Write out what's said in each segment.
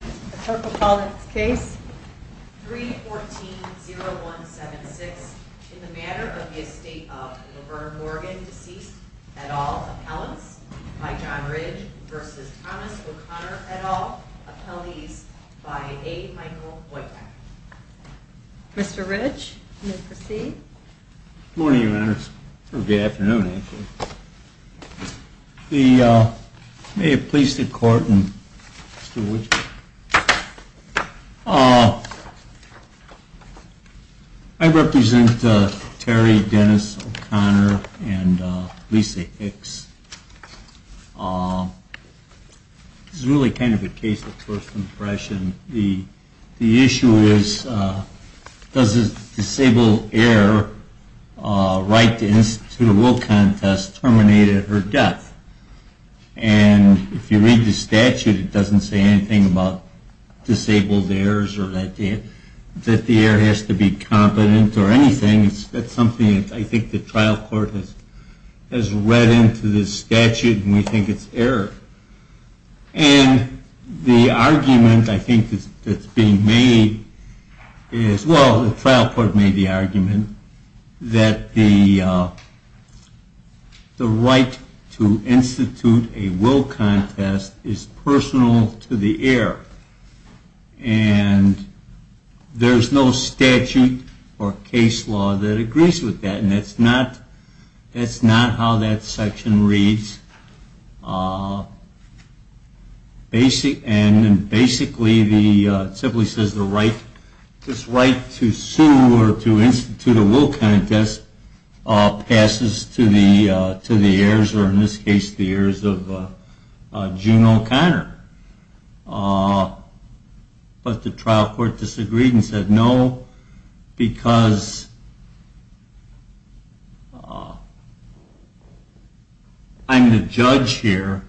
The clerk will call the case. 3-14-0176, in the matter of the estate of Laverne Morgan, deceased, et al., appellants, by John Ridge v. Thomas O'Connor, et al., appellees, by A. Michael Wojtek. Mr. Ridge, you may proceed. Good morning, Your Honors. Or, good afternoon, actually. May it please the Court, Mr. Wojtek. I represent Terry Dennis O'Connor and Lisa Hicks. This is really kind of a case of first impression. The issue is, does a disabled heir write to the Institute of World Contest terminate at her death? And if you read the statute, it doesn't say anything about disabled heirs or that the heir has to be competent or anything. That's something I think the trial court has read into this statute, and we think it's error. And the argument I think that's being made is, well, the trial court made the argument that the right to institute a world contest is personal to the heir. And there's no statute or case law that agrees with that, and that's not how that section reads. And basically, it simply says this right to sue or to institute a world contest passes to the heirs, or in this case, the heirs of June O'Connor. But the trial court disagreed and said no, because I'm the judge here,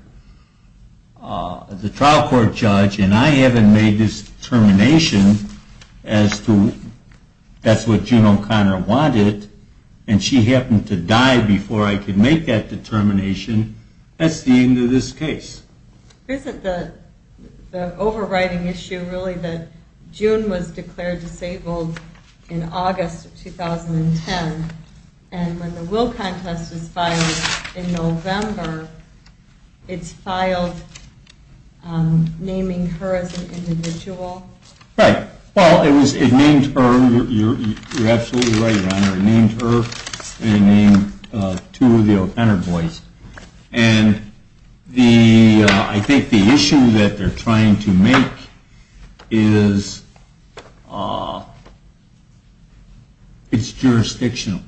the trial court judge, and I haven't made this determination as to that's what June O'Connor wanted, and she happened to die before I could make that determination. That's the end of this case. Isn't the overriding issue really that June was declared disabled in August of 2010, and when the world contest is filed in November, it's filed naming her as an individual? Right. Well, it named her, you're absolutely right, Your Honor, it named her, and it named two of the O'Connor boys. And I think the issue that they're trying to make is it's jurisdictional.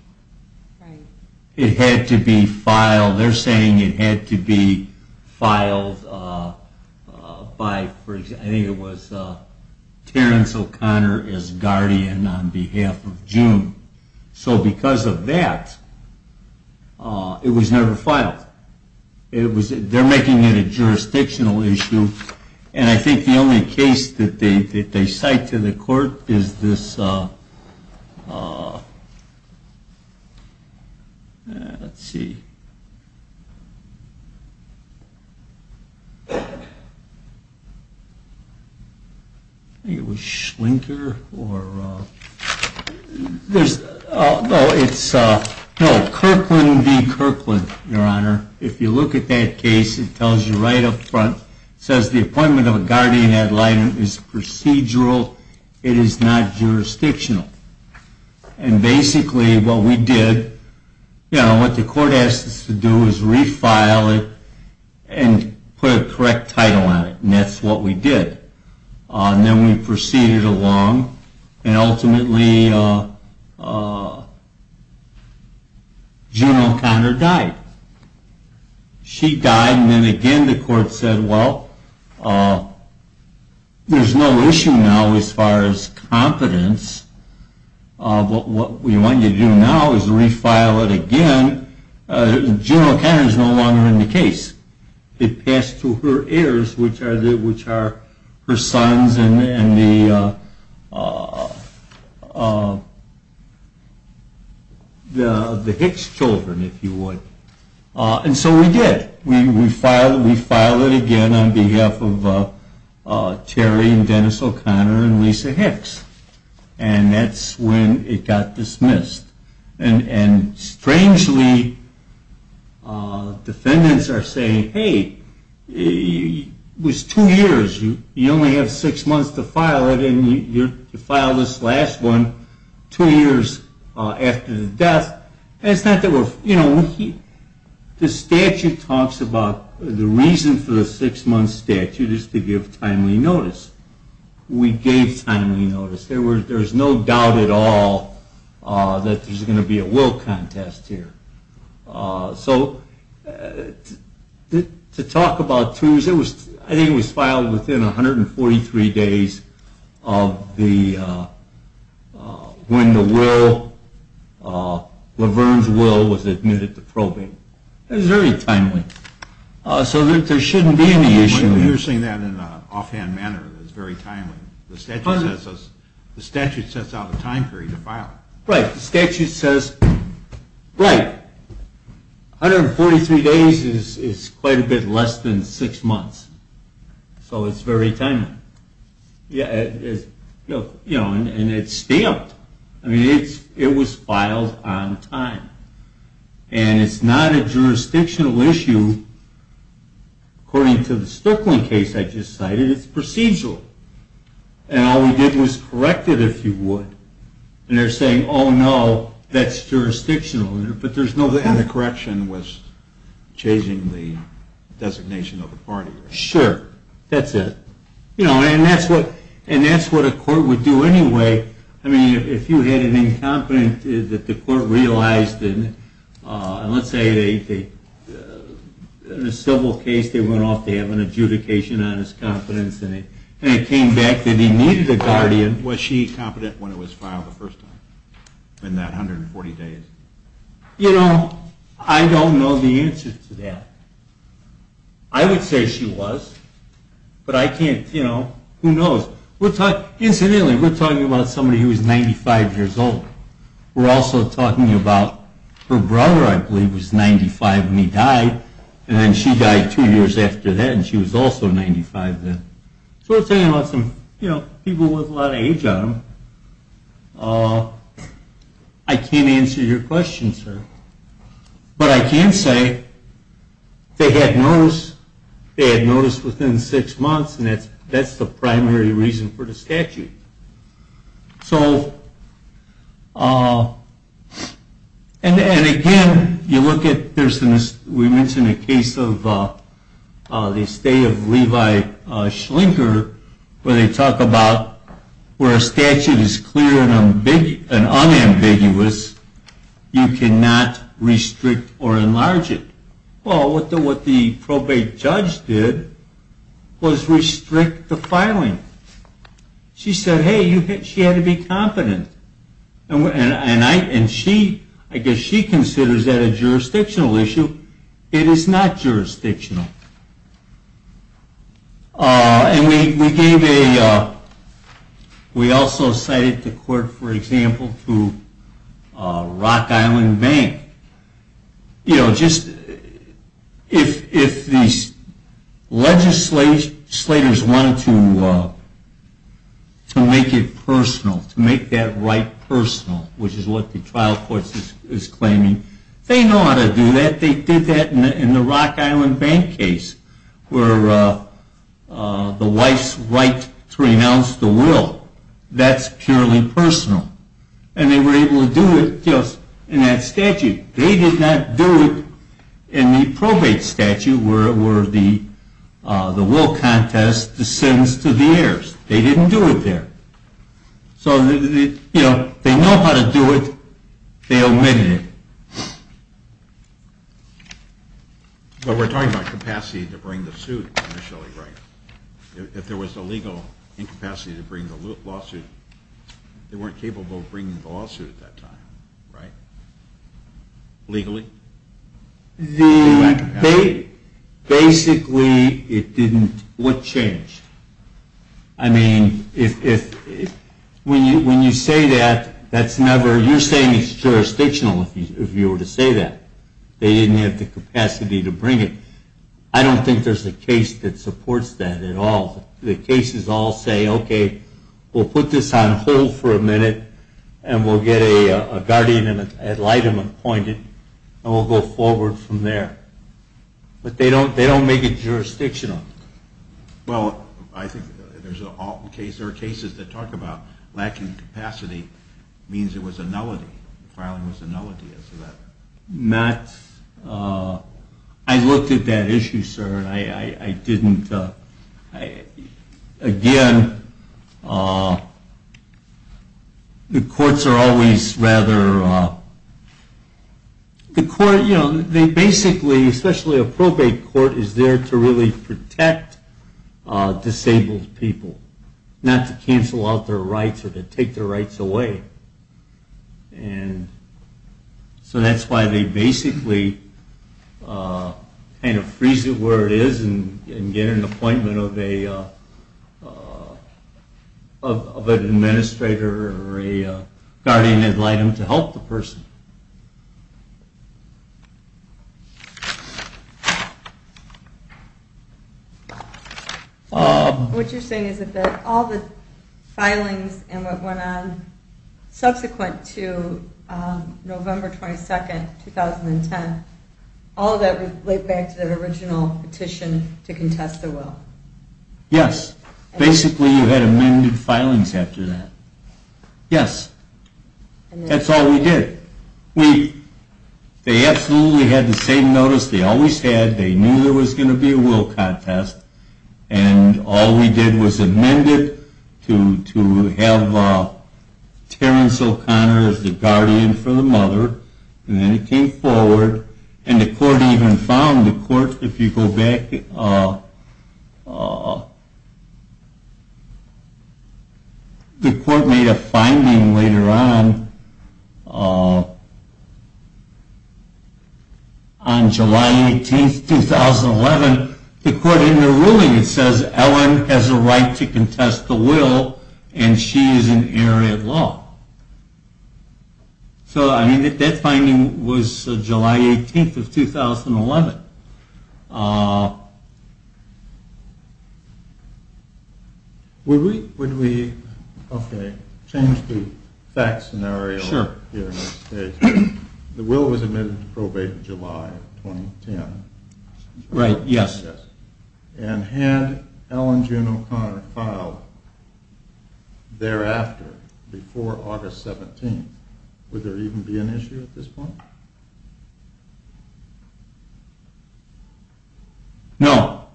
It had to be filed, they're saying it had to be filed by, I think it was Terrence O'Connor as guardian on behalf of June. So because of that, it was never filed. They're making it a jurisdictional issue, and I think the only case that they cite to the court is this, let's see, I think it was Schlinker, no, it's Kirkland v. Kirkland, Your Honor. If you look at that case, it tells you right up front, it says the appointment of a guardian ad litem is procedural, it is not jurisdictional. And basically what we did, what the court asked us to do was refile it and put a correct title on it, and that's what we did. And then we proceeded along, and ultimately June O'Connor died. She died, and then again the court said, well, there's no issue now as far as competence, but what we want you to do now is refile it again, June O'Connor is no longer in the case. It passed to her heirs, which are her sons and the Hicks children, if you would. And so we did. We filed it again on behalf of Terry and Dennis O'Connor and Lisa Hicks, and that's when it got dismissed. And strangely, defendants are saying, hey, it was two years, you only have six months to file it, and you filed this last one two years after the death. It's not that we're, you know, the statute talks about the reason for the six-month statute is to give timely notice. We gave timely notice. There's no doubt at all that there's going to be a will contest here. So to talk about twos, I think it was filed within 143 days of when Laverne's will was admitted to probing. It was very timely. So there shouldn't be any issue. You're saying that in an offhand manner, that it's very timely. The statute sets out a time period to file. Right. The statute says, right, 143 days is quite a bit less than six months. So it's very timely. And it's stamped. I mean, it was filed on time. And it's not a jurisdictional issue, according to the Stoecklin case I just cited. It's procedural. And all we did was correct it, if you would. And they're saying, oh, no, that's jurisdictional. And the correction was changing the designation of the party. Sure. That's it. You know, and that's what a court would do anyway. I mean, if you had an incompetent that the court realized, and let's say in a civil case they went off to have an adjudication on his competence, and it came back that he needed a guardian. Was she competent when it was filed the first time, in that 140 days? You know, I don't know the answer to that. I would say she was. But I can't, you know, who knows. Incidentally, we're talking about somebody who was 95 years old. We're also talking about her brother, I believe, who was 95 when he died. And then she died two years after that, and she was also 95 then. So we're talking about some people with a lot of age on them. I can't answer your question, sir. But I can say they had notice within six months, and that's the primary reason for the statute. So, and again, you look at, we mentioned a case of the stay of Levi Schlinker, where they talk about where a statute is clear and unambiguous, you cannot restrict or enlarge it. Well, what the probate judge did was restrict the filing. She said, hey, she had to be competent. And she, I guess she considers that a jurisdictional issue. It is not jurisdictional. And we gave a, we also cited the court, for example, to Rock Island Bank. You know, just if these legislators wanted to make it personal, to make that right personal, which is what the trial court is claiming, they know how to do that. They did that in the Rock Island Bank case, where the wife's right to renounce the will, that's purely personal. And they were able to do it just in that statute. They did not do it in the probate statute, where the will contest descends to the heirs. They didn't do it there. So, you know, they know how to do it. They omitted it. But we're talking about capacity to bring the suit initially, right? If there was a legal incapacity to bring the lawsuit, they weren't capable of bringing the lawsuit at that time, right? Legally? Basically, it didn't, what changed? I mean, when you say that, that's never, you're saying it's jurisdictional if you were to say that. They didn't have the capacity to bring it. I don't think there's a case that supports that at all. The cases all say, okay, we'll put this on hold for a minute, and we'll get a guardian and an ad litem appointed, and we'll go forward from there. But they don't make it jurisdictional. Well, I think there are cases that talk about lacking capacity means it was a nullity. The filing was a nullity as to that. Not, I looked at that issue, sir, and I didn't, again, the courts are always rather, the court, you know, they basically, especially a probate court is there to really protect disabled people, not to cancel out their rights or to take their rights away. And so that's why they basically kind of freeze it where it is and get an appointment of an administrator or a guardian ad litem to help the person. What you're saying is that all the filings and what went on subsequent to November 22, 2010, all of that was laid back to the original petition to contest the will. Yes. Basically, you had amended filings after that. Yes. That's all we did. We, they absolutely had the same notice they always had. They knew there was going to be a will contest, and all we did was amend it to have Terrence O'Connor as the guardian for the mother, and then it came forward, and the court even found, the court, if you go back, the court made a finding later on, on July 18, 2011, the court in the ruling, it says, Ellen has a right to contest the will, and she is an heiress of law. So, I mean, that finding was July 18, 2011. Would we, would we, okay, change the fact scenario. Sure. The will was amended to probate in July 2010. Right, yes. And had Ellen June O'Connor filed thereafter, before August 17, would there even be an issue at this point? No.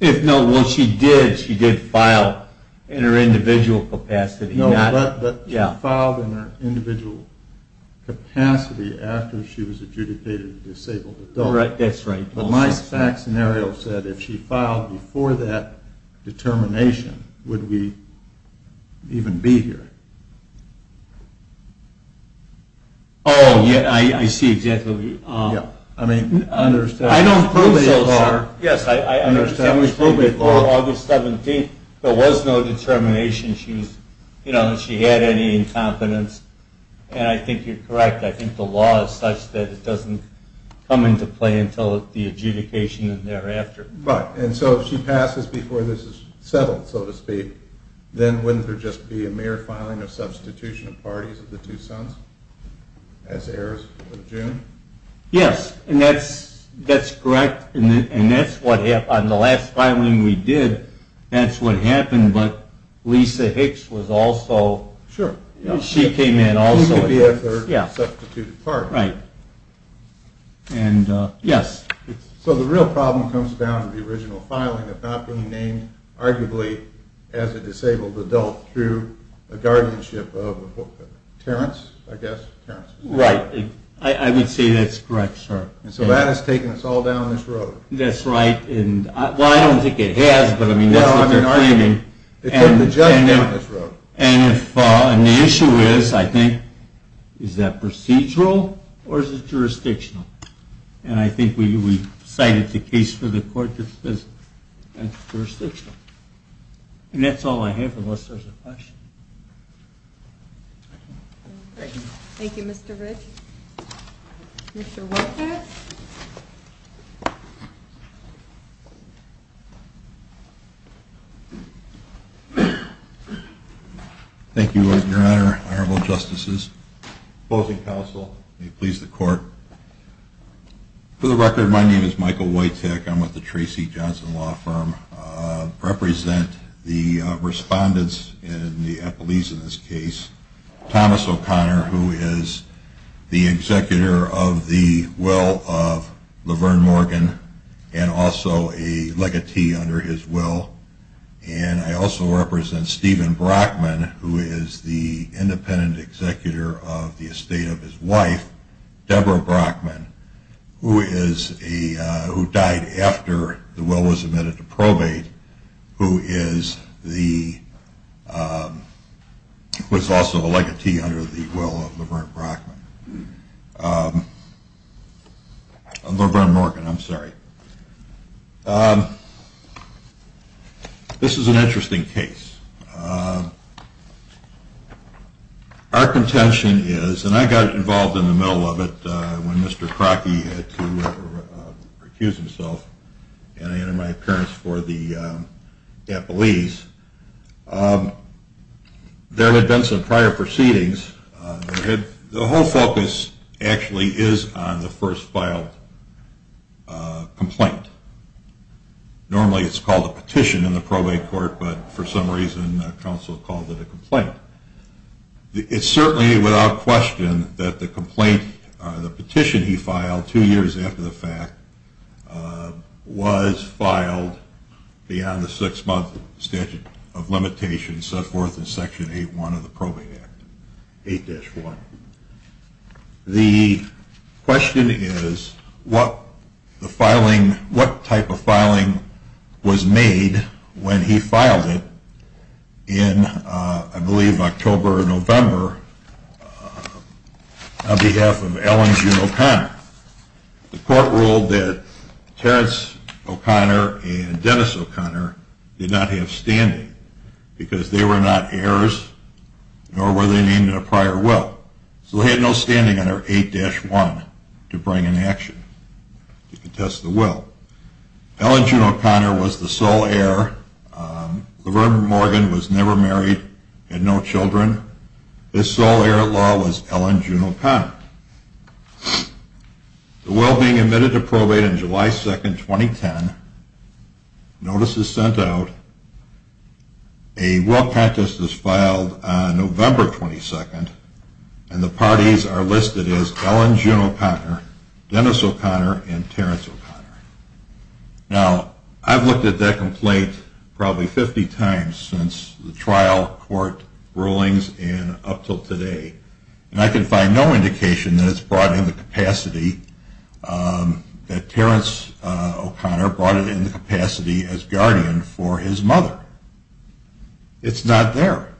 If not, well, she did, she did file in her individual capacity. No, but she filed in her individual capacity after she was adjudicated a disabled adult. That's right. But my fact scenario said, if she filed before that determination, would we even be here? Oh, yeah, I see exactly what you, I don't think so, sir. Yes, I understand, there was no determination, she had any incompetence, and I think you're correct, I think the law is such that it doesn't come into play until the adjudication and thereafter. Right, and so if she passes before this is settled, so to speak, then wouldn't there just be a mere filing of substitution of parties of the two sons as heirs of June? Yes, and that's, that's correct, and that's what happened, the last filing we did, that's what happened, but Lisa Hicks was also, she came in also. Who could be a third substituted party. Right, and yes. So the real problem comes down to the original filing of not being named arguably as a disabled adult through a guardianship of Terrence, I guess. Right, I would say that's correct, sir. So that has taken us all down this road. That's right, well I don't think it has, but that's what they're claiming. It took the judge down this road. And the issue is, I think, is that procedural or is it jurisdictional? And I think we cited the case for the court that says it's jurisdictional. And that's all I have, unless there's a question. Thank you, Mr. Rich. Mr. Whitehats. Thank you, your honor, honorable justices, opposing counsel, may it please the court. For the record, my name is Michael Whitehats, I'm with the Tracy Johnson Law Firm. I represent the respondents in the appellees in this case. Thomas O'Connor, who is the executor of the will of Laverne Morgan and also a legatee under his will. And I also represent Stephen Brockman, who is the independent executor of the estate of his wife, Deborah Brockman, who died after the will was admitted to probate, who is also a legatee under the will of Laverne Morgan. This is an interesting case. Our contention is, and I got involved in the middle of it when Mr. Crocky had to recuse himself and I entered my appearance for the appellees. There had been some prior proceedings. The whole focus actually is on the first filed complaint. Normally it's called a petition in the probate court, but for some reason counsel called it a complaint. It's certainly without question that the petition he filed two years after the fact was filed beyond the six-month statute of limitations set forth in Section 8-1 of the Probate Act, 8-4. The question is what type of filing was made when he filed it in, I believe, October or November on behalf of Ellington O'Connor. The court ruled that Terrence O'Connor and Dennis O'Connor did not have standing because they were not heirs nor were they named in a prior will. So they had no standing under 8-1 to bring an action to contest the will. Ellen June O'Connor was the sole heir. Laverne Morgan was never married, had no children. The sole heir at law was Ellen June O'Connor. The will being admitted to probate on July 2, 2010, notice is sent out. A will contest is filed on November 22 and the parties are listed as Ellen June O'Connor, Dennis O'Connor, and Terrence O'Connor. Now, I've looked at that complaint probably 50 times since the trial court rulings and up until today. And I can find no indication that it's brought in the capacity, that Terrence O'Connor brought it in the capacity as guardian for his mother. It's not there.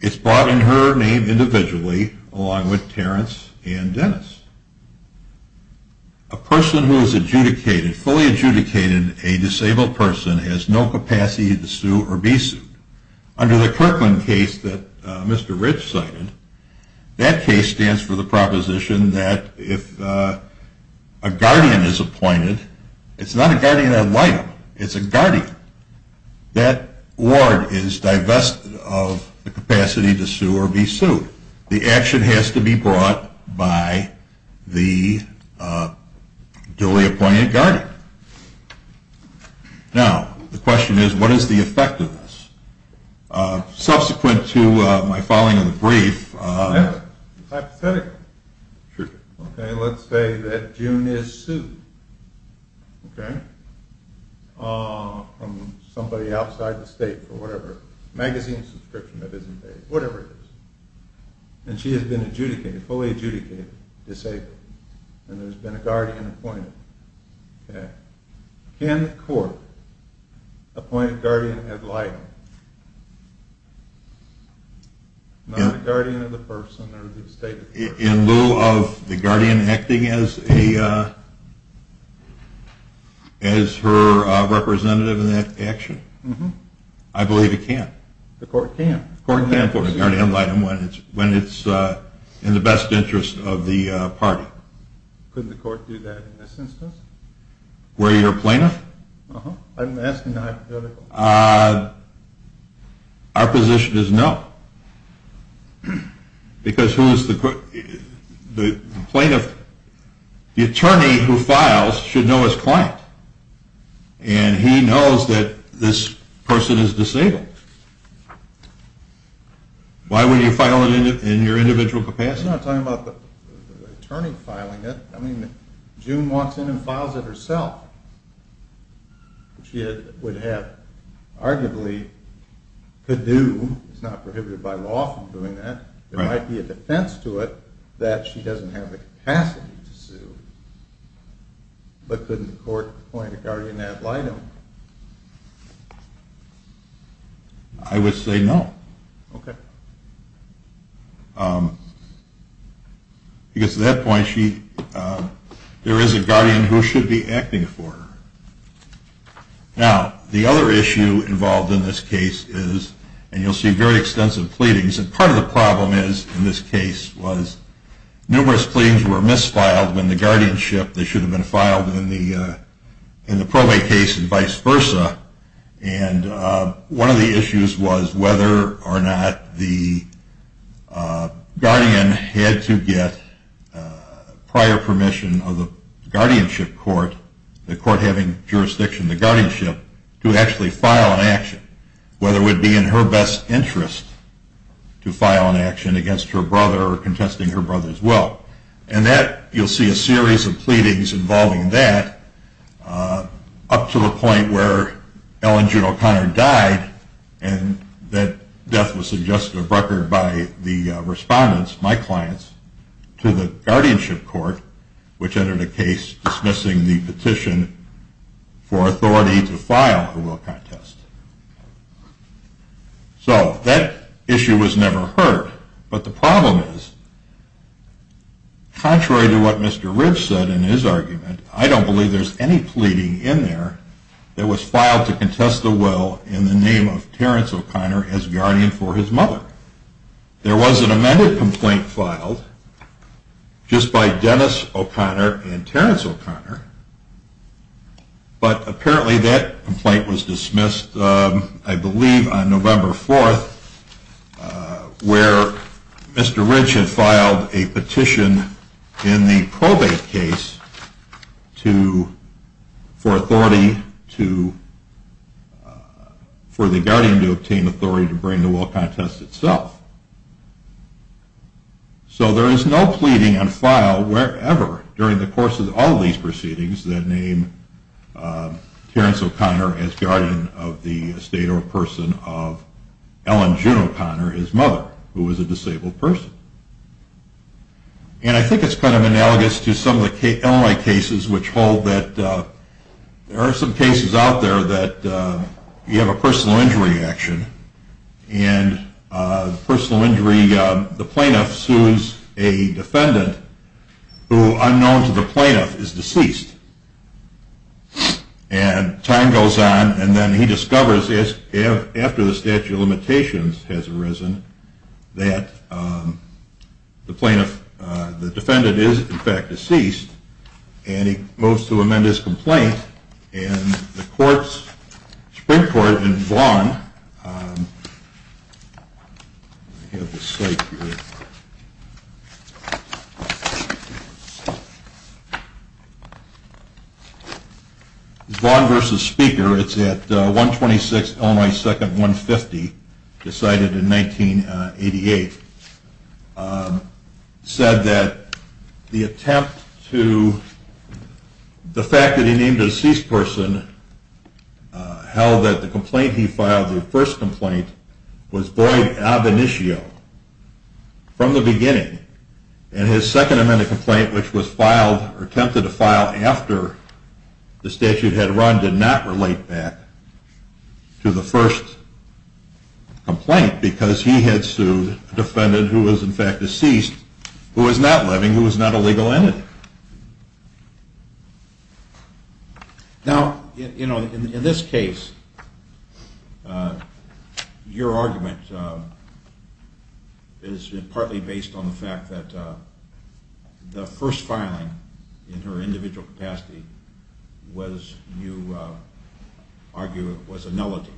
It's brought in her name individually along with Terrence and Dennis. A person who is fully adjudicated a disabled person has no capacity to sue or be sued. Under the Kirkland case that Mr. Rich cited, that case stands for the proposition that if a guardian is appointed, it's not a guardian ad litem, it's a guardian. That ward is divested of the capacity to sue or be sued. The action has to be brought by the duly appointed guardian. Now, the question is, what is the effect of this? Subsequent to my following of the brief... And she has been adjudicated, fully adjudicated, disabled. And there's been a guardian appointed. Can the court appoint a guardian ad litem? Not a guardian of the person or the stated person. In lieu of the guardian acting as her representative in that action? I believe it can. The court can. The court can appoint a guardian ad litem when it's in the best interest of the party. Could the court do that in this instance? Were you a plaintiff? I'm asking hypothetical. Our position is no. Because who is the plaintiff? The attorney who files should know his client. And he knows that this person is disabled. Why would you file it in your individual capacity? I'm not talking about the attorney filing it. I mean, June walks in and files it herself. She would have arguably could do, it's not prohibited by law from doing that. There might be a defense to it that she doesn't have the capacity to sue. But couldn't the court appoint a guardian ad litem? I would say no. Okay. Because at that point, there is a guardian who should be acting for her. Now, the other issue involved in this case is, and you'll see very extensive pleadings, and part of the problem in this case was numerous pleadings were misfiled when the guardianship, they should have been filed in the probate case and vice versa. And one of the issues was whether or not the guardian had to get prior permission of the guardianship court, the court having jurisdiction of the guardianship, to actually file an action, whether it would be in her best interest to file an action against her brother or contesting her brother's will. And that, you'll see a series of pleadings involving that, up to the point where Ellen June O'Connor died and that death was suggested of record by the respondents, my clients, to the guardianship court, which entered a case dismissing the petition for authority to file a will contest. So that issue was never heard, but the problem is, contrary to what Mr. Ridge said in his argument, I don't believe there's any pleading in there that was filed to contest the will in the name of Terrence O'Connor as guardian for his mother. There was an amended complaint filed just by Dennis O'Connor and Terrence O'Connor, but apparently that complaint was dismissed, I believe, on November 4th, where Mr. Ridge had filed a petition in the probate case for authority, for the guardian to obtain authority to bring the will contest itself. So there is no pleading on file, wherever, during the course of all of these proceedings, that named Terrence O'Connor as guardian of the estate or person of Ellen June O'Connor, his mother, who was a disabled person. And I think it's kind of analogous to some of the LMI cases, which hold that there are some cases out there that you have a personal injury action, and the plaintiff sues a defendant who, unknown to the plaintiff, is deceased. And time goes on, and then he discovers, after the statute of limitations has arisen, that the defendant is in fact deceased, and he moves to amend his complaint. And the Supreme Court in Vaughan versus Speaker, it's at 126 Illinois 2nd, 150, decided in 1988, said that the attempt to, the fact that he named a deceased person, held that the complaint he filed, the first complaint, was void ab initio, from the beginning. And his second amended complaint, which was filed, attempted to file after the statute had run, did not relate back to the first complaint, because he had sued a defendant who was in fact deceased, who was not living, who was not a legal entity. Now, you know, in this case, your argument is partly based on the fact that the first filing in her individual capacity was, you argue, was a nullity.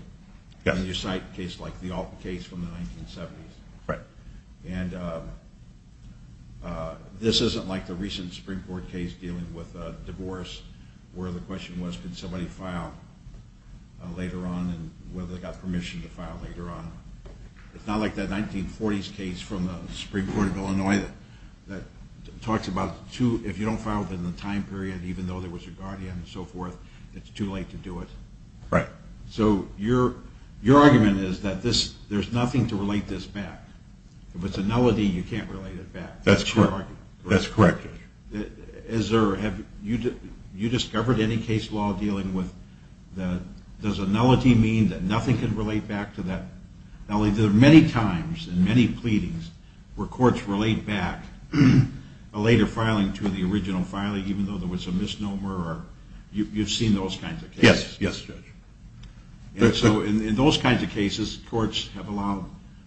You cite cases like the Alton case from the 1970s, and this isn't like the recent Supreme Court case dealing with divorce, where the question was, can somebody file later on, and whether they got permission to file later on. It's not like that 1940s case from the Supreme Court of Illinois that talks about, if you don't file within the time period, even though there was a guardian and so forth, it's too late to do it. Right. So your argument is that there's nothing to relate this back. If it's a nullity, you can't relate it back. That's correct. Is there, have you discovered any case law dealing with, does a nullity mean that nothing can relate back to that nullity? There are many times in many pleadings where courts relate back a later filing to the original filing, even though there was a misnomer. You've seen those kinds of cases. Yes, yes, Judge. So in those kinds of cases, courts have allowed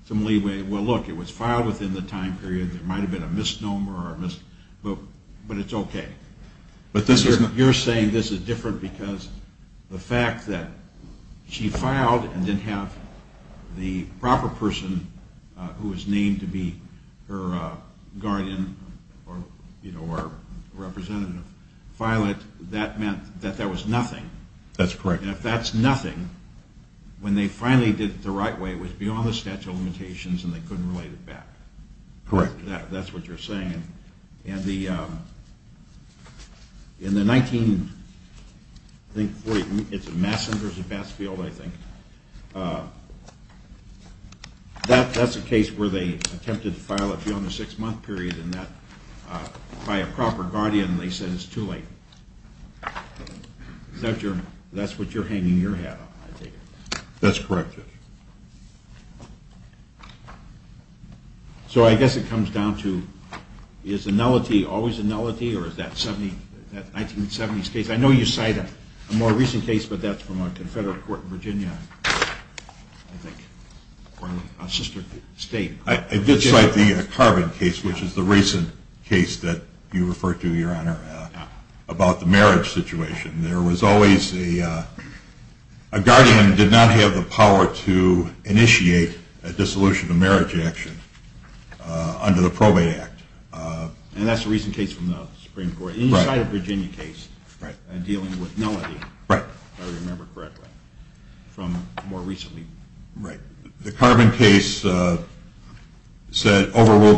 some leeway. Well, look, it was filed within the time period. There might have been a misnomer, but it's okay. You're saying this is different because the fact that she filed and didn't have the proper person who was named to be her guardian or representative file it, that meant that that was nothing. That's correct. And if that's nothing, when they finally did it the right way, it was beyond the statute of limitations and they couldn't relate it back. Correct. That's what you're saying. That's what you're hanging your hat on, I take it. That's correct, Judge. So I guess it comes down to, is the nullity always a nullity or is that 1970s case? I know you cite a more recent case, but that's from a Confederate court in Virginia, I think, or a sister state. I did cite the Carvin case, which is the recent case that you referred to, Your Honor, about the marriage situation. There was always a guardian who did not have the power to initiate a dissolution of marriage action under the Probate Act. And that's a recent case from the Supreme Court. You cited a Virginia case dealing with nullity, if I remember correctly, from more recently. Right. The Carvin case overruled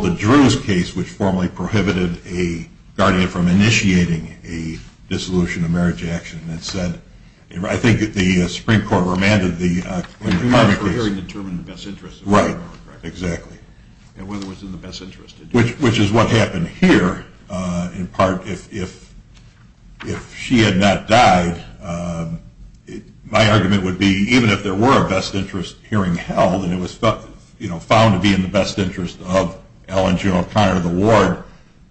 the Drews case, which formally prohibited a guardian from initiating a dissolution of marriage action. I think the Supreme Court remanded the Carvin case. It was to determine the best interest of the woman, correct? Right, exactly. And whether it was in the best interest. Which is what happened here, in part, if she had not died, my argument would be, even if there were a best interest hearing held, and it was found to be in the best interest of Ellen G. O'Connor, the ward,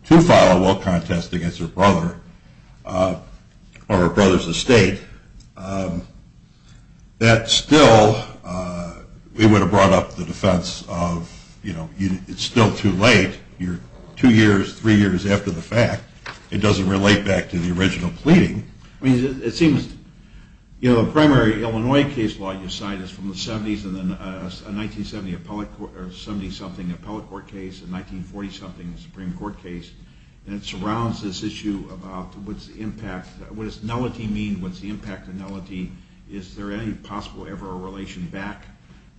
to file a will contest against her brother or her brother's estate, that still, it would have brought up the defense of, you know, it's still too late. You're two years, three years after the fact. It doesn't relate back to the original pleading. I mean, it seems, you know, the primary Illinois case law you cite is from the 70s, a 1970 something appellate court case, a 1940 something Supreme Court case, and it surrounds this issue about what's the impact, what does nullity mean, what's the impact of nullity? Is there any possible ever a relation back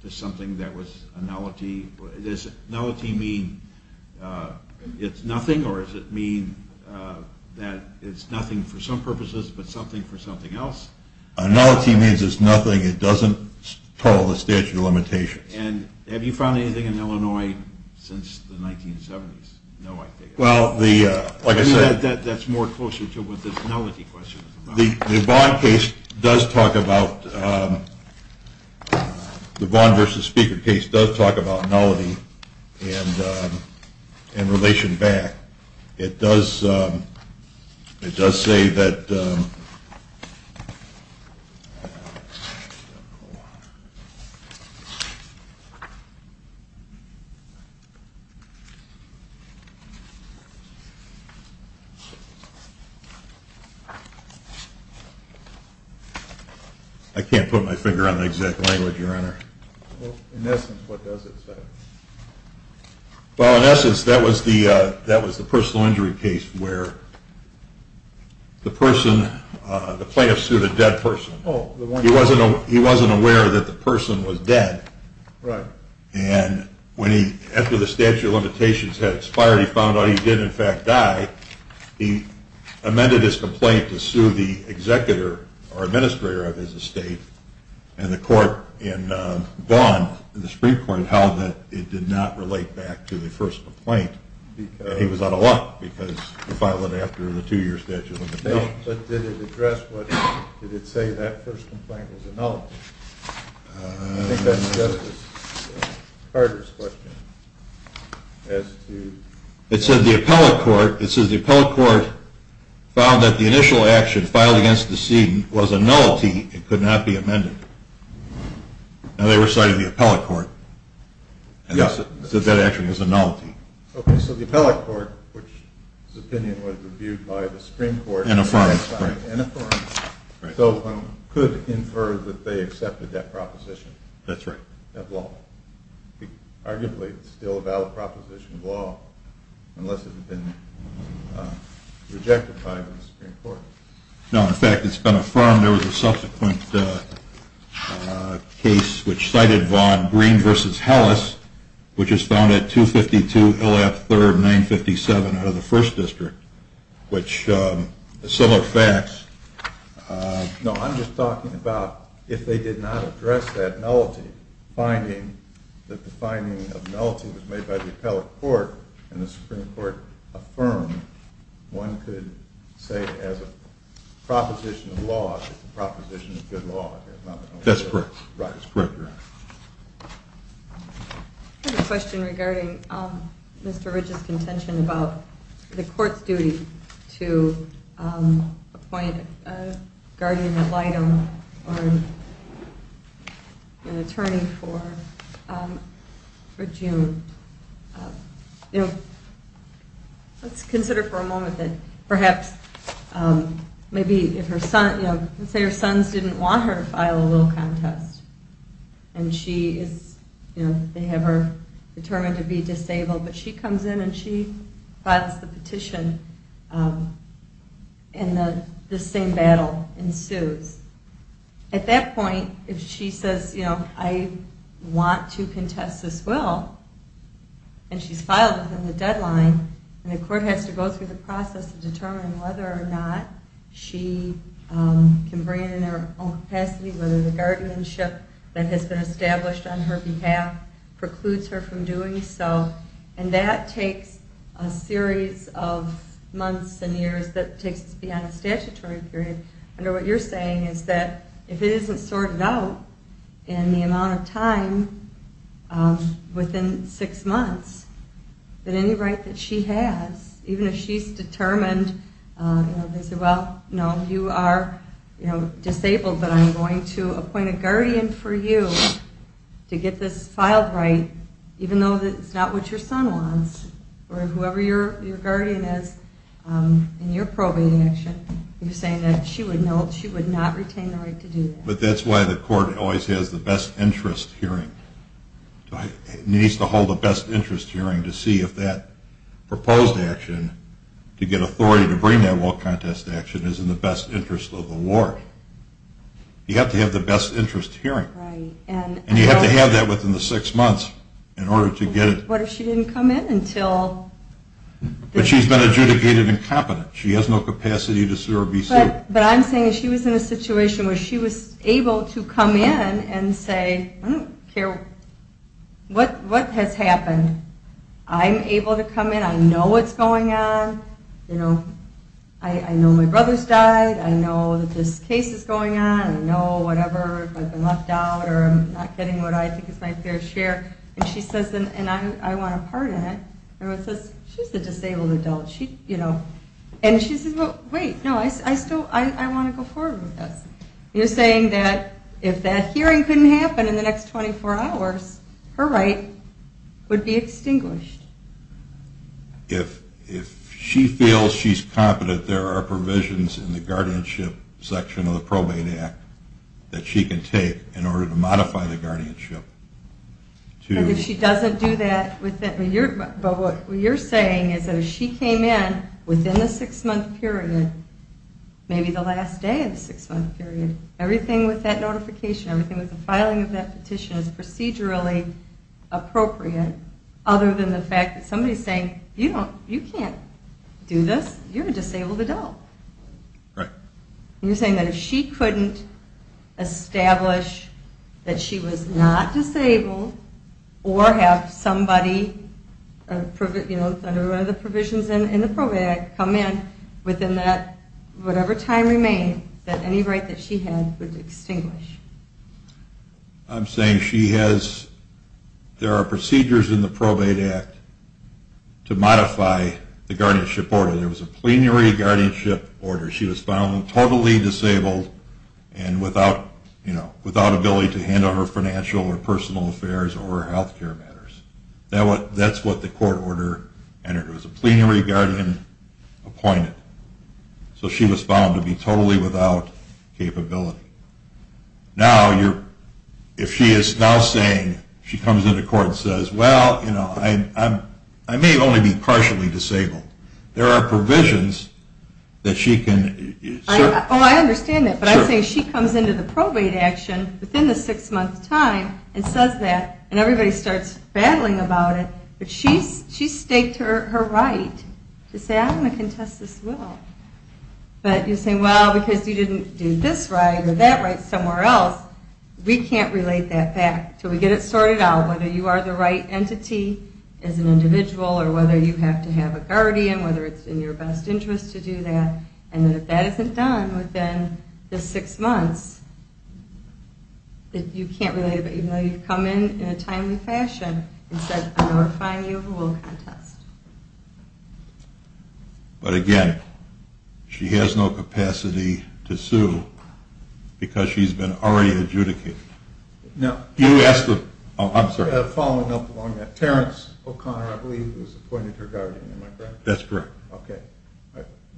to something that was a nullity? Does nullity mean it's nothing, or does it mean that it's nothing for some purposes, but something for something else? Nullity means it's nothing. It doesn't call the statute of limitations. And have you found anything in Illinois since the 1970s? No, I haven't. Well, like I said. That's more closer to what this nullity question is about. The Vaughn case does talk about, the Vaughn v. Speaker case does talk about nullity and relation back. It does say that, I can't put my finger on the exact language, Your Honor. In essence, what does it say? Well, in essence, that was the personal injury case where the person, the plaintiff sued a dead person. He wasn't aware that the person was dead. And when he, after the statute of limitations had expired, he found out he did in fact die. He amended his complaint to sue the executor or administrator of his estate. And the court in Vaughn, the Supreme Court, held that it did not relate back to the first complaint. He was out of luck because he filed it after the two-year statute of limitations. But did it address, did it say that first complaint was a nullity? I think that's Justice Carter's question. It said the appellate court, it says the appellate court found that the initial action filed against the student was a nullity. It could not be amended. Now they were citing the appellate court. Yes. It said that action was a nullity. Okay, so the appellate court, which this opinion was reviewed by the Supreme Court. And affirmed. And affirmed. Right. So one could infer that they accepted that proposition. That's right. That law. Arguably, it's still a valid proposition of law unless it had been rejected by the Supreme Court. No, in fact, it's been affirmed. There was a subsequent case which cited Vaughn, Green v. Hellis, which is found at 252 Hill Ave. 3rd, 957 out of the 1st District. Which is similar facts. No, I'm just talking about if they did not address that nullity, finding that the finding of nullity was made by the appellate court and the Supreme Court affirmed. One could say that as a proposition of law, it's a proposition of good law. That's correct. Right, that's correct. I have a question regarding Mr. Ridge's contention about the court's duty to appoint a guardian ad litem or an attorney for June. Let's consider for a moment that perhaps, let's say her sons didn't want her to file a will contest. And they have her determined to be disabled, but she comes in and she files the petition and the same battle ensues. At that point, if she says, you know, I want to contest this will, and she's filed within the deadline, and the court has to go through the process of determining whether or not she can bring it in her own capacity, whether the guardianship that has been established on her behalf precludes her from doing so. And that takes a series of months and years that takes to be on a statutory period. I know what you're saying is that if it isn't sorted out in the amount of time within six months, then any right that she has, even if she's determined, they say, well, no, you are disabled, but I'm going to appoint a guardian for you to get this filed right, even though it's not what your son wants. Or whoever your guardian is in your probating action, you're saying that she would not retain the right to do that. But that's why the court always has the best interest hearing. It needs to hold a best interest hearing to see if that proposed action to get authority to bring that will contest action is in the best interest of the ward. You have to have the best interest hearing. Right. And you have to have that within the six months in order to get it. What if she didn't come in until... But she's been adjudicated incompetent. She has no capacity to sue or be sued. But I'm saying if she was in a situation where she was able to come in and say, I don't care what has happened. I'm able to come in. I know what's going on. You know, I know my brother's died. I know that this case is going on. I know whatever, if I've been left out or I'm not getting what I think is my fair share. And she says, and I want to pardon it, everyone says, she's a disabled adult. And she says, well, wait, no, I want to go forward with this. You're saying that if that hearing couldn't happen in the next 24 hours, her right would be extinguished. If she feels she's competent, there are provisions in the guardianship section of the Probate Act that she can take in order to modify the guardianship. And if she doesn't do that, but what you're saying is that if she came in within the six-month period, maybe the last day of the six-month period, everything with that notification, everything with the filing of that petition is procedurally appropriate, other than the fact that somebody's saying, you can't do this. You're a disabled adult. Right. And you're saying that if she couldn't establish that she was not disabled or have somebody, you know, under one of the provisions in the Probate Act, come in within that, whatever time remained, that any right that she had would extinguish. I'm saying she has, there are procedures in the Probate Act to modify the guardianship order. There was a plenary guardianship order. She was found totally disabled and without, you know, without ability to handle her financial or personal affairs or her health care matters. That's what the court order entered. It was a plenary guardian appointed. So she was found to be totally without capability. Now, if she is now saying, she comes into court and says, well, you know, I may only be partially disabled. There are provisions that she can serve. Oh, I understand that. But I'm saying she comes into the probate action within the six-month time and says that, and everybody starts battling about it. But she staked her right to say, I'm going to contest this will. But you're saying, well, because you didn't do this right or that right somewhere else, we can't relate that back until we get it sorted out, whether you are the right entity as an individual or whether you have to have a guardian, whether it's in your best interest to do that. And if that isn't done within the six months, you can't relate it, even though you've come in in a timely fashion and said, I'm going to find you who will contest. But again, she has no capacity to sue because she's been already adjudicated. Now, following up on that, Terrence O'Connor, I believe, was appointed her guardian, am I correct? That's correct. Okay.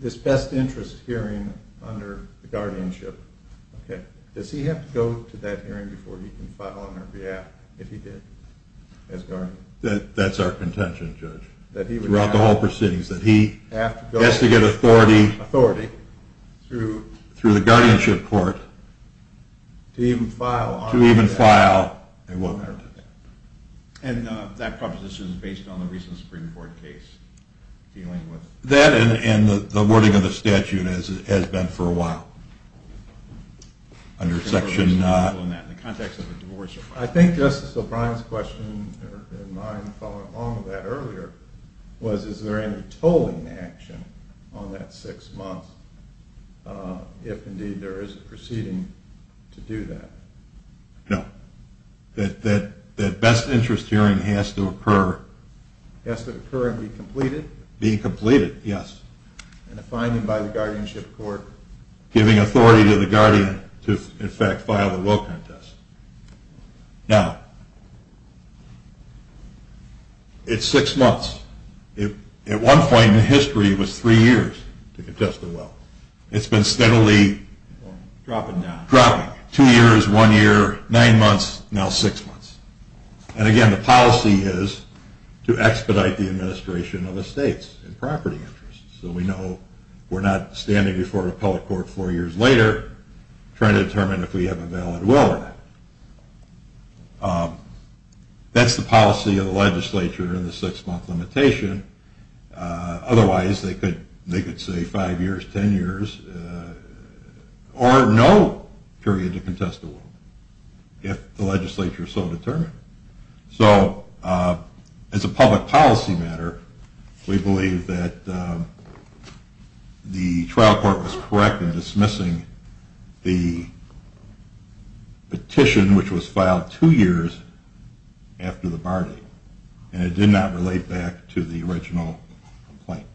This best interest hearing under guardianship, does he have to go to that hearing before he can file on her behalf if he did as guardian? Throughout the whole proceedings, that he has to get authority through the guardianship court to even file on her behalf. And that proposition is based on the recent Supreme Court case? That and the wording of the statute has been for a while. I think Justice O'Brien's question and mine following along with that earlier was, is there any tolling action on that six months if indeed there is a proceeding to do that? No. That best interest hearing has to occur. Has to occur and be completed? Be completed, yes. And a finding by the guardianship court? Giving authority to the guardian to in fact file the will contest. Now, it's six months. At one point in history it was three years to contest the will. It's been steadily dropping. Two years, one year, nine months, now six months. And again the policy is to expedite the administration of estates and property interests. So we know we're not standing before a public court four years later trying to determine if we have a valid will or not. That's the policy of the legislature in the six month limitation. Otherwise they could say five years, ten years, or no period to contest the will if the legislature is so determined. So as a public policy matter, we believe that the trial court was correct in dismissing the petition which was filed two years after the bar date. And it did not relate back to the original complaint.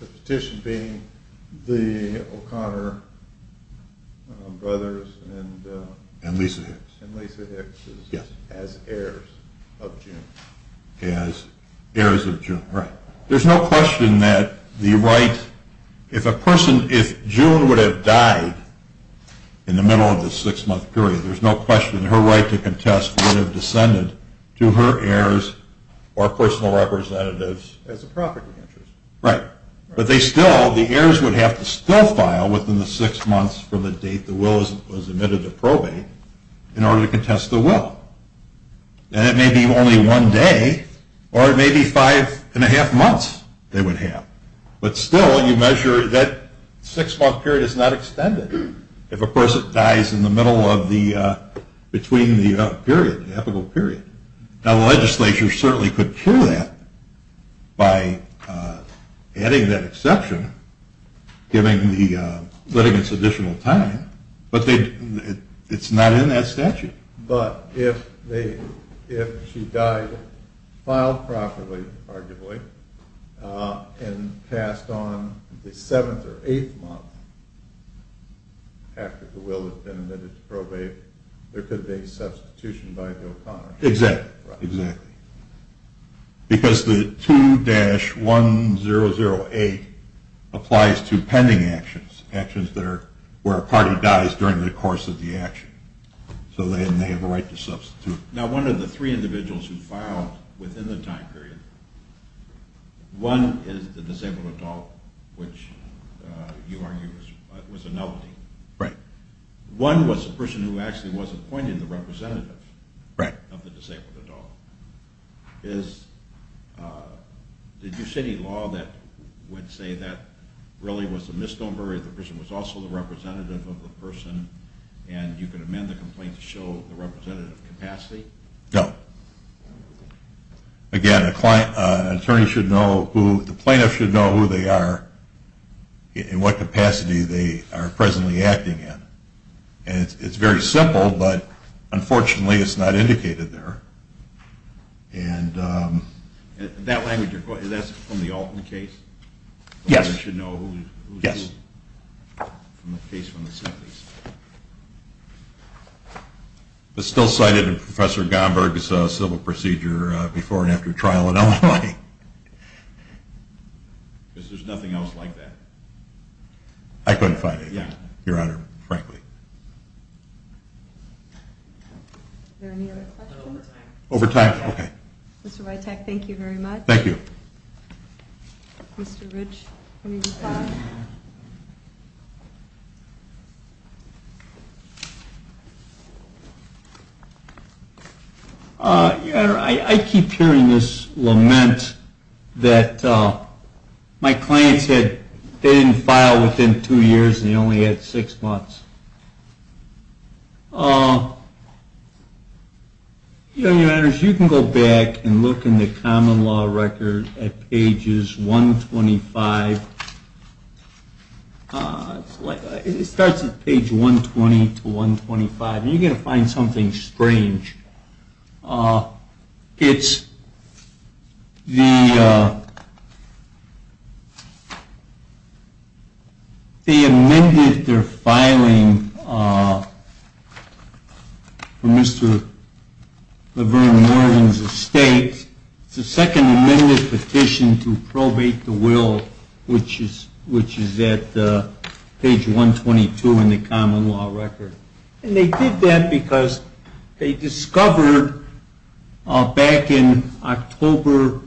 The petition being the O'Connor brothers and Lisa Hicks as heirs of June. As heirs of June, right. There's no question that the right, if a person, if June would have died in the middle of the six month period, there's no question her right to contest would have descended to her heirs or personal representatives. As a property interest. Right. But they still, the heirs would have to still file within the six months from the date the will was admitted to probate in order to contest the will. And it may be only one day or it may be five and a half months they would have. But still you measure that six month period is not extended if a person dies in the middle of the, between the period, the epical period. Now the legislature certainly could cure that by adding that exception, giving the litigants additional time, but it's not in that statute. But if they, if she died, filed properly, arguably, and passed on the seventh or eighth month after the will had been admitted to probate, there could be a substitution by the O'Connor brothers. Exactly. Because the 2-1008 applies to pending actions, actions that are, where a party dies during the course of the action. So they have a right to substitute. Now one of the three individuals who filed within the time period, one is the disabled adult, which you argue was a novelty. Right. One was a person who actually was appointed the representative. Right. Is, did you see any law that would say that really was a misnomer if the person was also the representative of the person and you could amend the complaint to show the representative capacity? No. Again, an attorney should know who, the plaintiff should know who they are, in what capacity they are presently acting in. And it's very simple, but unfortunately it's not indicated there. And that language, is that from the Alton case? Yes. The lawyer should know who's who. Yes. From the case from the Simpkins. It's still cited in Professor Gomberg's civil procedure before and after trial in Illinois. Because there's nothing else like that. I couldn't find anything. Your Honor, frankly. Are there any other questions? Overtime. Overtime, okay. Mr. Witek, thank you very much. Thank you. Mr. Rich, any reply? Your Honor, I keep hearing this lament that my clients, they didn't file within two years and they only had six months. Your Honor, if you can go back and look in the common law record at pages 125. It starts at page 120 to 125 and you're going to find something strange. It's the, they amended their filing for Mr. Laverne Morgan's estate. It's a second amended petition to probate the will, which is at page 122 in the common law record. And they did that because they discovered back in October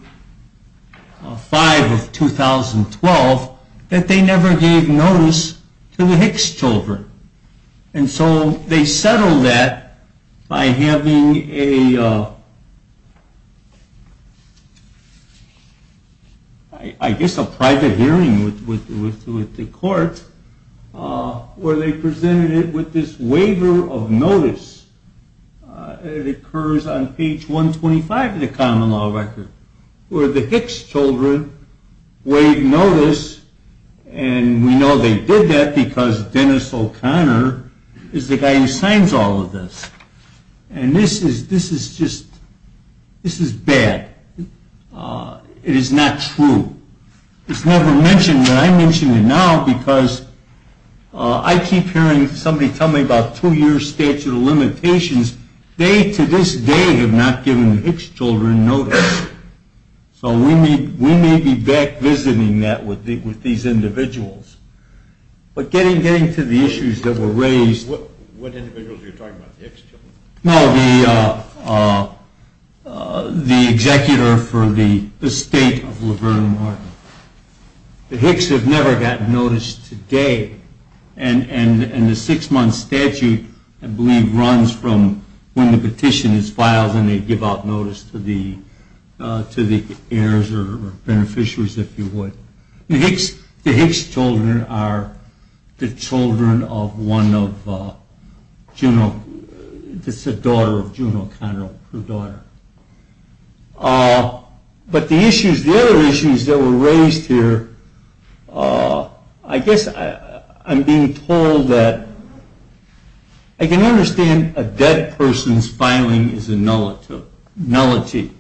5 of 2012 that they never gave notice to the Hicks children. And so they settled that by having a, I guess a private hearing with the court where they presented it with this waiver of notice. It occurs on page 125 of the common law record where the Hicks children waived notice and we know they did that because Dennis O'Connor is the guy who signs all of this. And this is, this is just, this is bad. It is not true. It's never mentioned and I mention it now because I keep hearing somebody tell me about two year statute of limitations. They to this day have not given the Hicks children notice. So we may be back visiting that with these individuals. But getting to the issues that were raised. What individuals are you talking about, the Hicks children? No, the executor for the estate of Laverne Martin. The Hicks have never gotten notice today. And the six month statute I believe runs from when the petition is filed and they give out notice to the heirs or beneficiaries if you would. The Hicks children are the children of one of Juno, the daughter of Juno O'Connor, her daughter. But the issues, the other issues that were raised here, I guess I'm being told that, I can understand a dead person's filing is a nullity.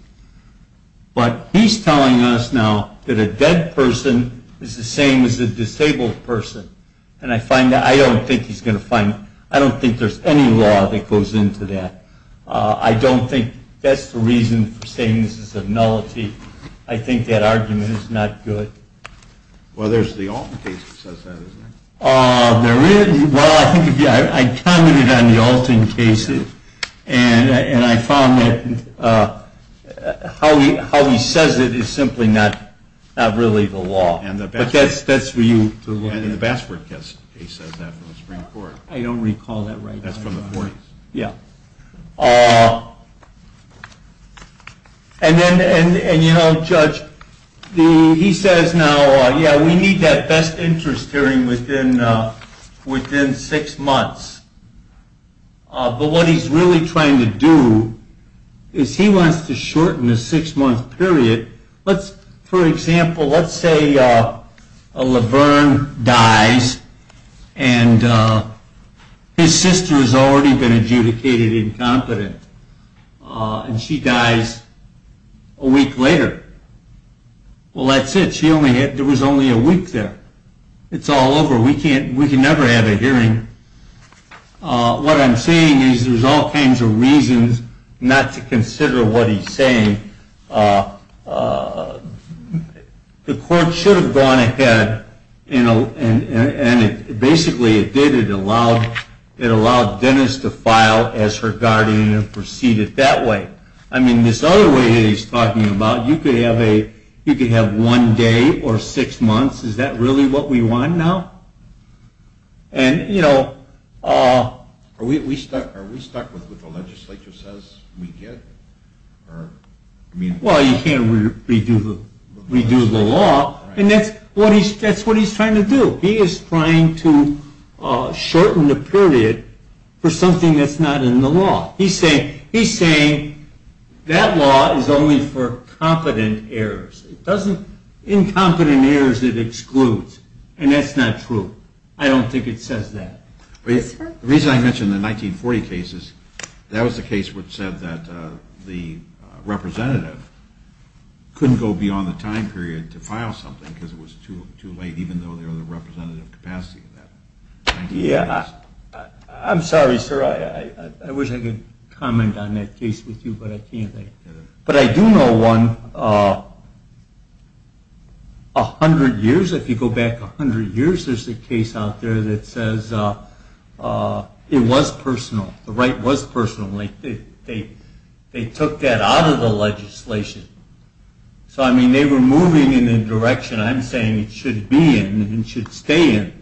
But he's telling us now that a dead person is the same as a disabled person. And I find that, I don't think he's going to find, I don't think there's any law that goes into that. I don't think that's the reason for saying this is a nullity. I think that argument is not good. Well there's the Alton case that says that, isn't there? There is, well I commented on the Alton case and I found that how he says it is simply not really the law. But that's for you to look at. And the Bassford case says that from the Supreme Court. I don't recall that right now. That's from the 40s. Yeah. And you know, Judge, he says now, yeah, we need that best interest hearing within six months. But what he's really trying to do is he wants to shorten the six month period. For example, let's say Laverne dies and his sister has already been adjudicated incompetent. And she dies a week later. Well that's it. There was only a week there. It's all over. We can never have a hearing. What I'm saying is there's all kinds of reasons not to consider what he's saying. The court should have gone ahead and basically it did. It allowed Dennis to file as her guardian and proceed it that way. I mean, this other way that he's talking about, you could have one day or six months. Is that really what we want now? And, you know... Are we stuck with what the legislature says we get? Well, you can't redo the law. And that's what he's trying to do. He is trying to shorten the period for something that's not in the law. He's saying that law is only for competent heirs. Incompetent heirs it excludes. And that's not true. I don't think it says that. The reason I mentioned the 1940 cases, that was the case which said that the representative couldn't go beyond the time period to file something because it was too late even though there was a representative capacity in that case. I'm sorry, sir. I wish I could comment on that case with you, but I can't. But I do know one. A hundred years, if you go back a hundred years, there's a case out there that says it was personal. The right was personal. They took that out of the legislation. So, I mean, they were moving in a direction I'm saying it should be in and should stay in.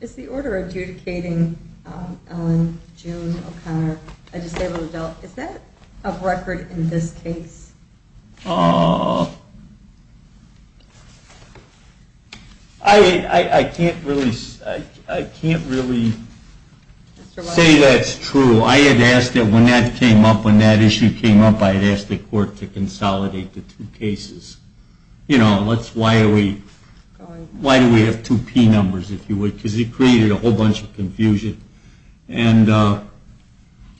Is the order adjudicating Ellen, June, O'Connor, a disabled adult, is that of record in this case? I can't really say that's true. I had asked that when that came up, when that issue came up, I had asked the court to consolidate the two cases. You know, why do we have two P numbers, if you would, because it created a whole bunch of confusion. And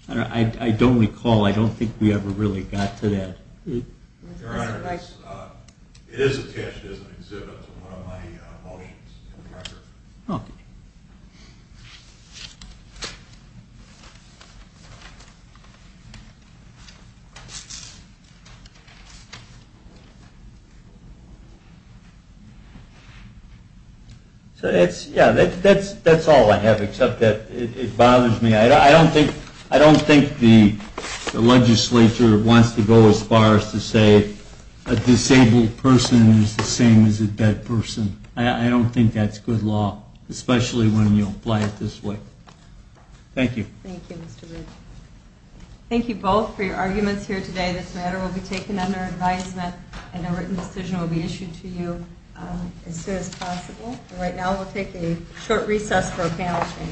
I don't recall, I don't think we ever really got to that. Your Honor, it is attached as an exhibit to one of my motions in the record. Okay. So that's, yeah, that's all I have except that it bothers me. I don't think the legislature wants to go as far as to say a disabled person is the same as a dead person. I don't think that's good law, especially when you apply it this way. Thank you. Thank you, Mr. Reed. Thank you both for your arguments here today. This matter will be taken under advisement. And a written decision will be issued to you as soon as possible. Right now we'll take a short recess for a panel change.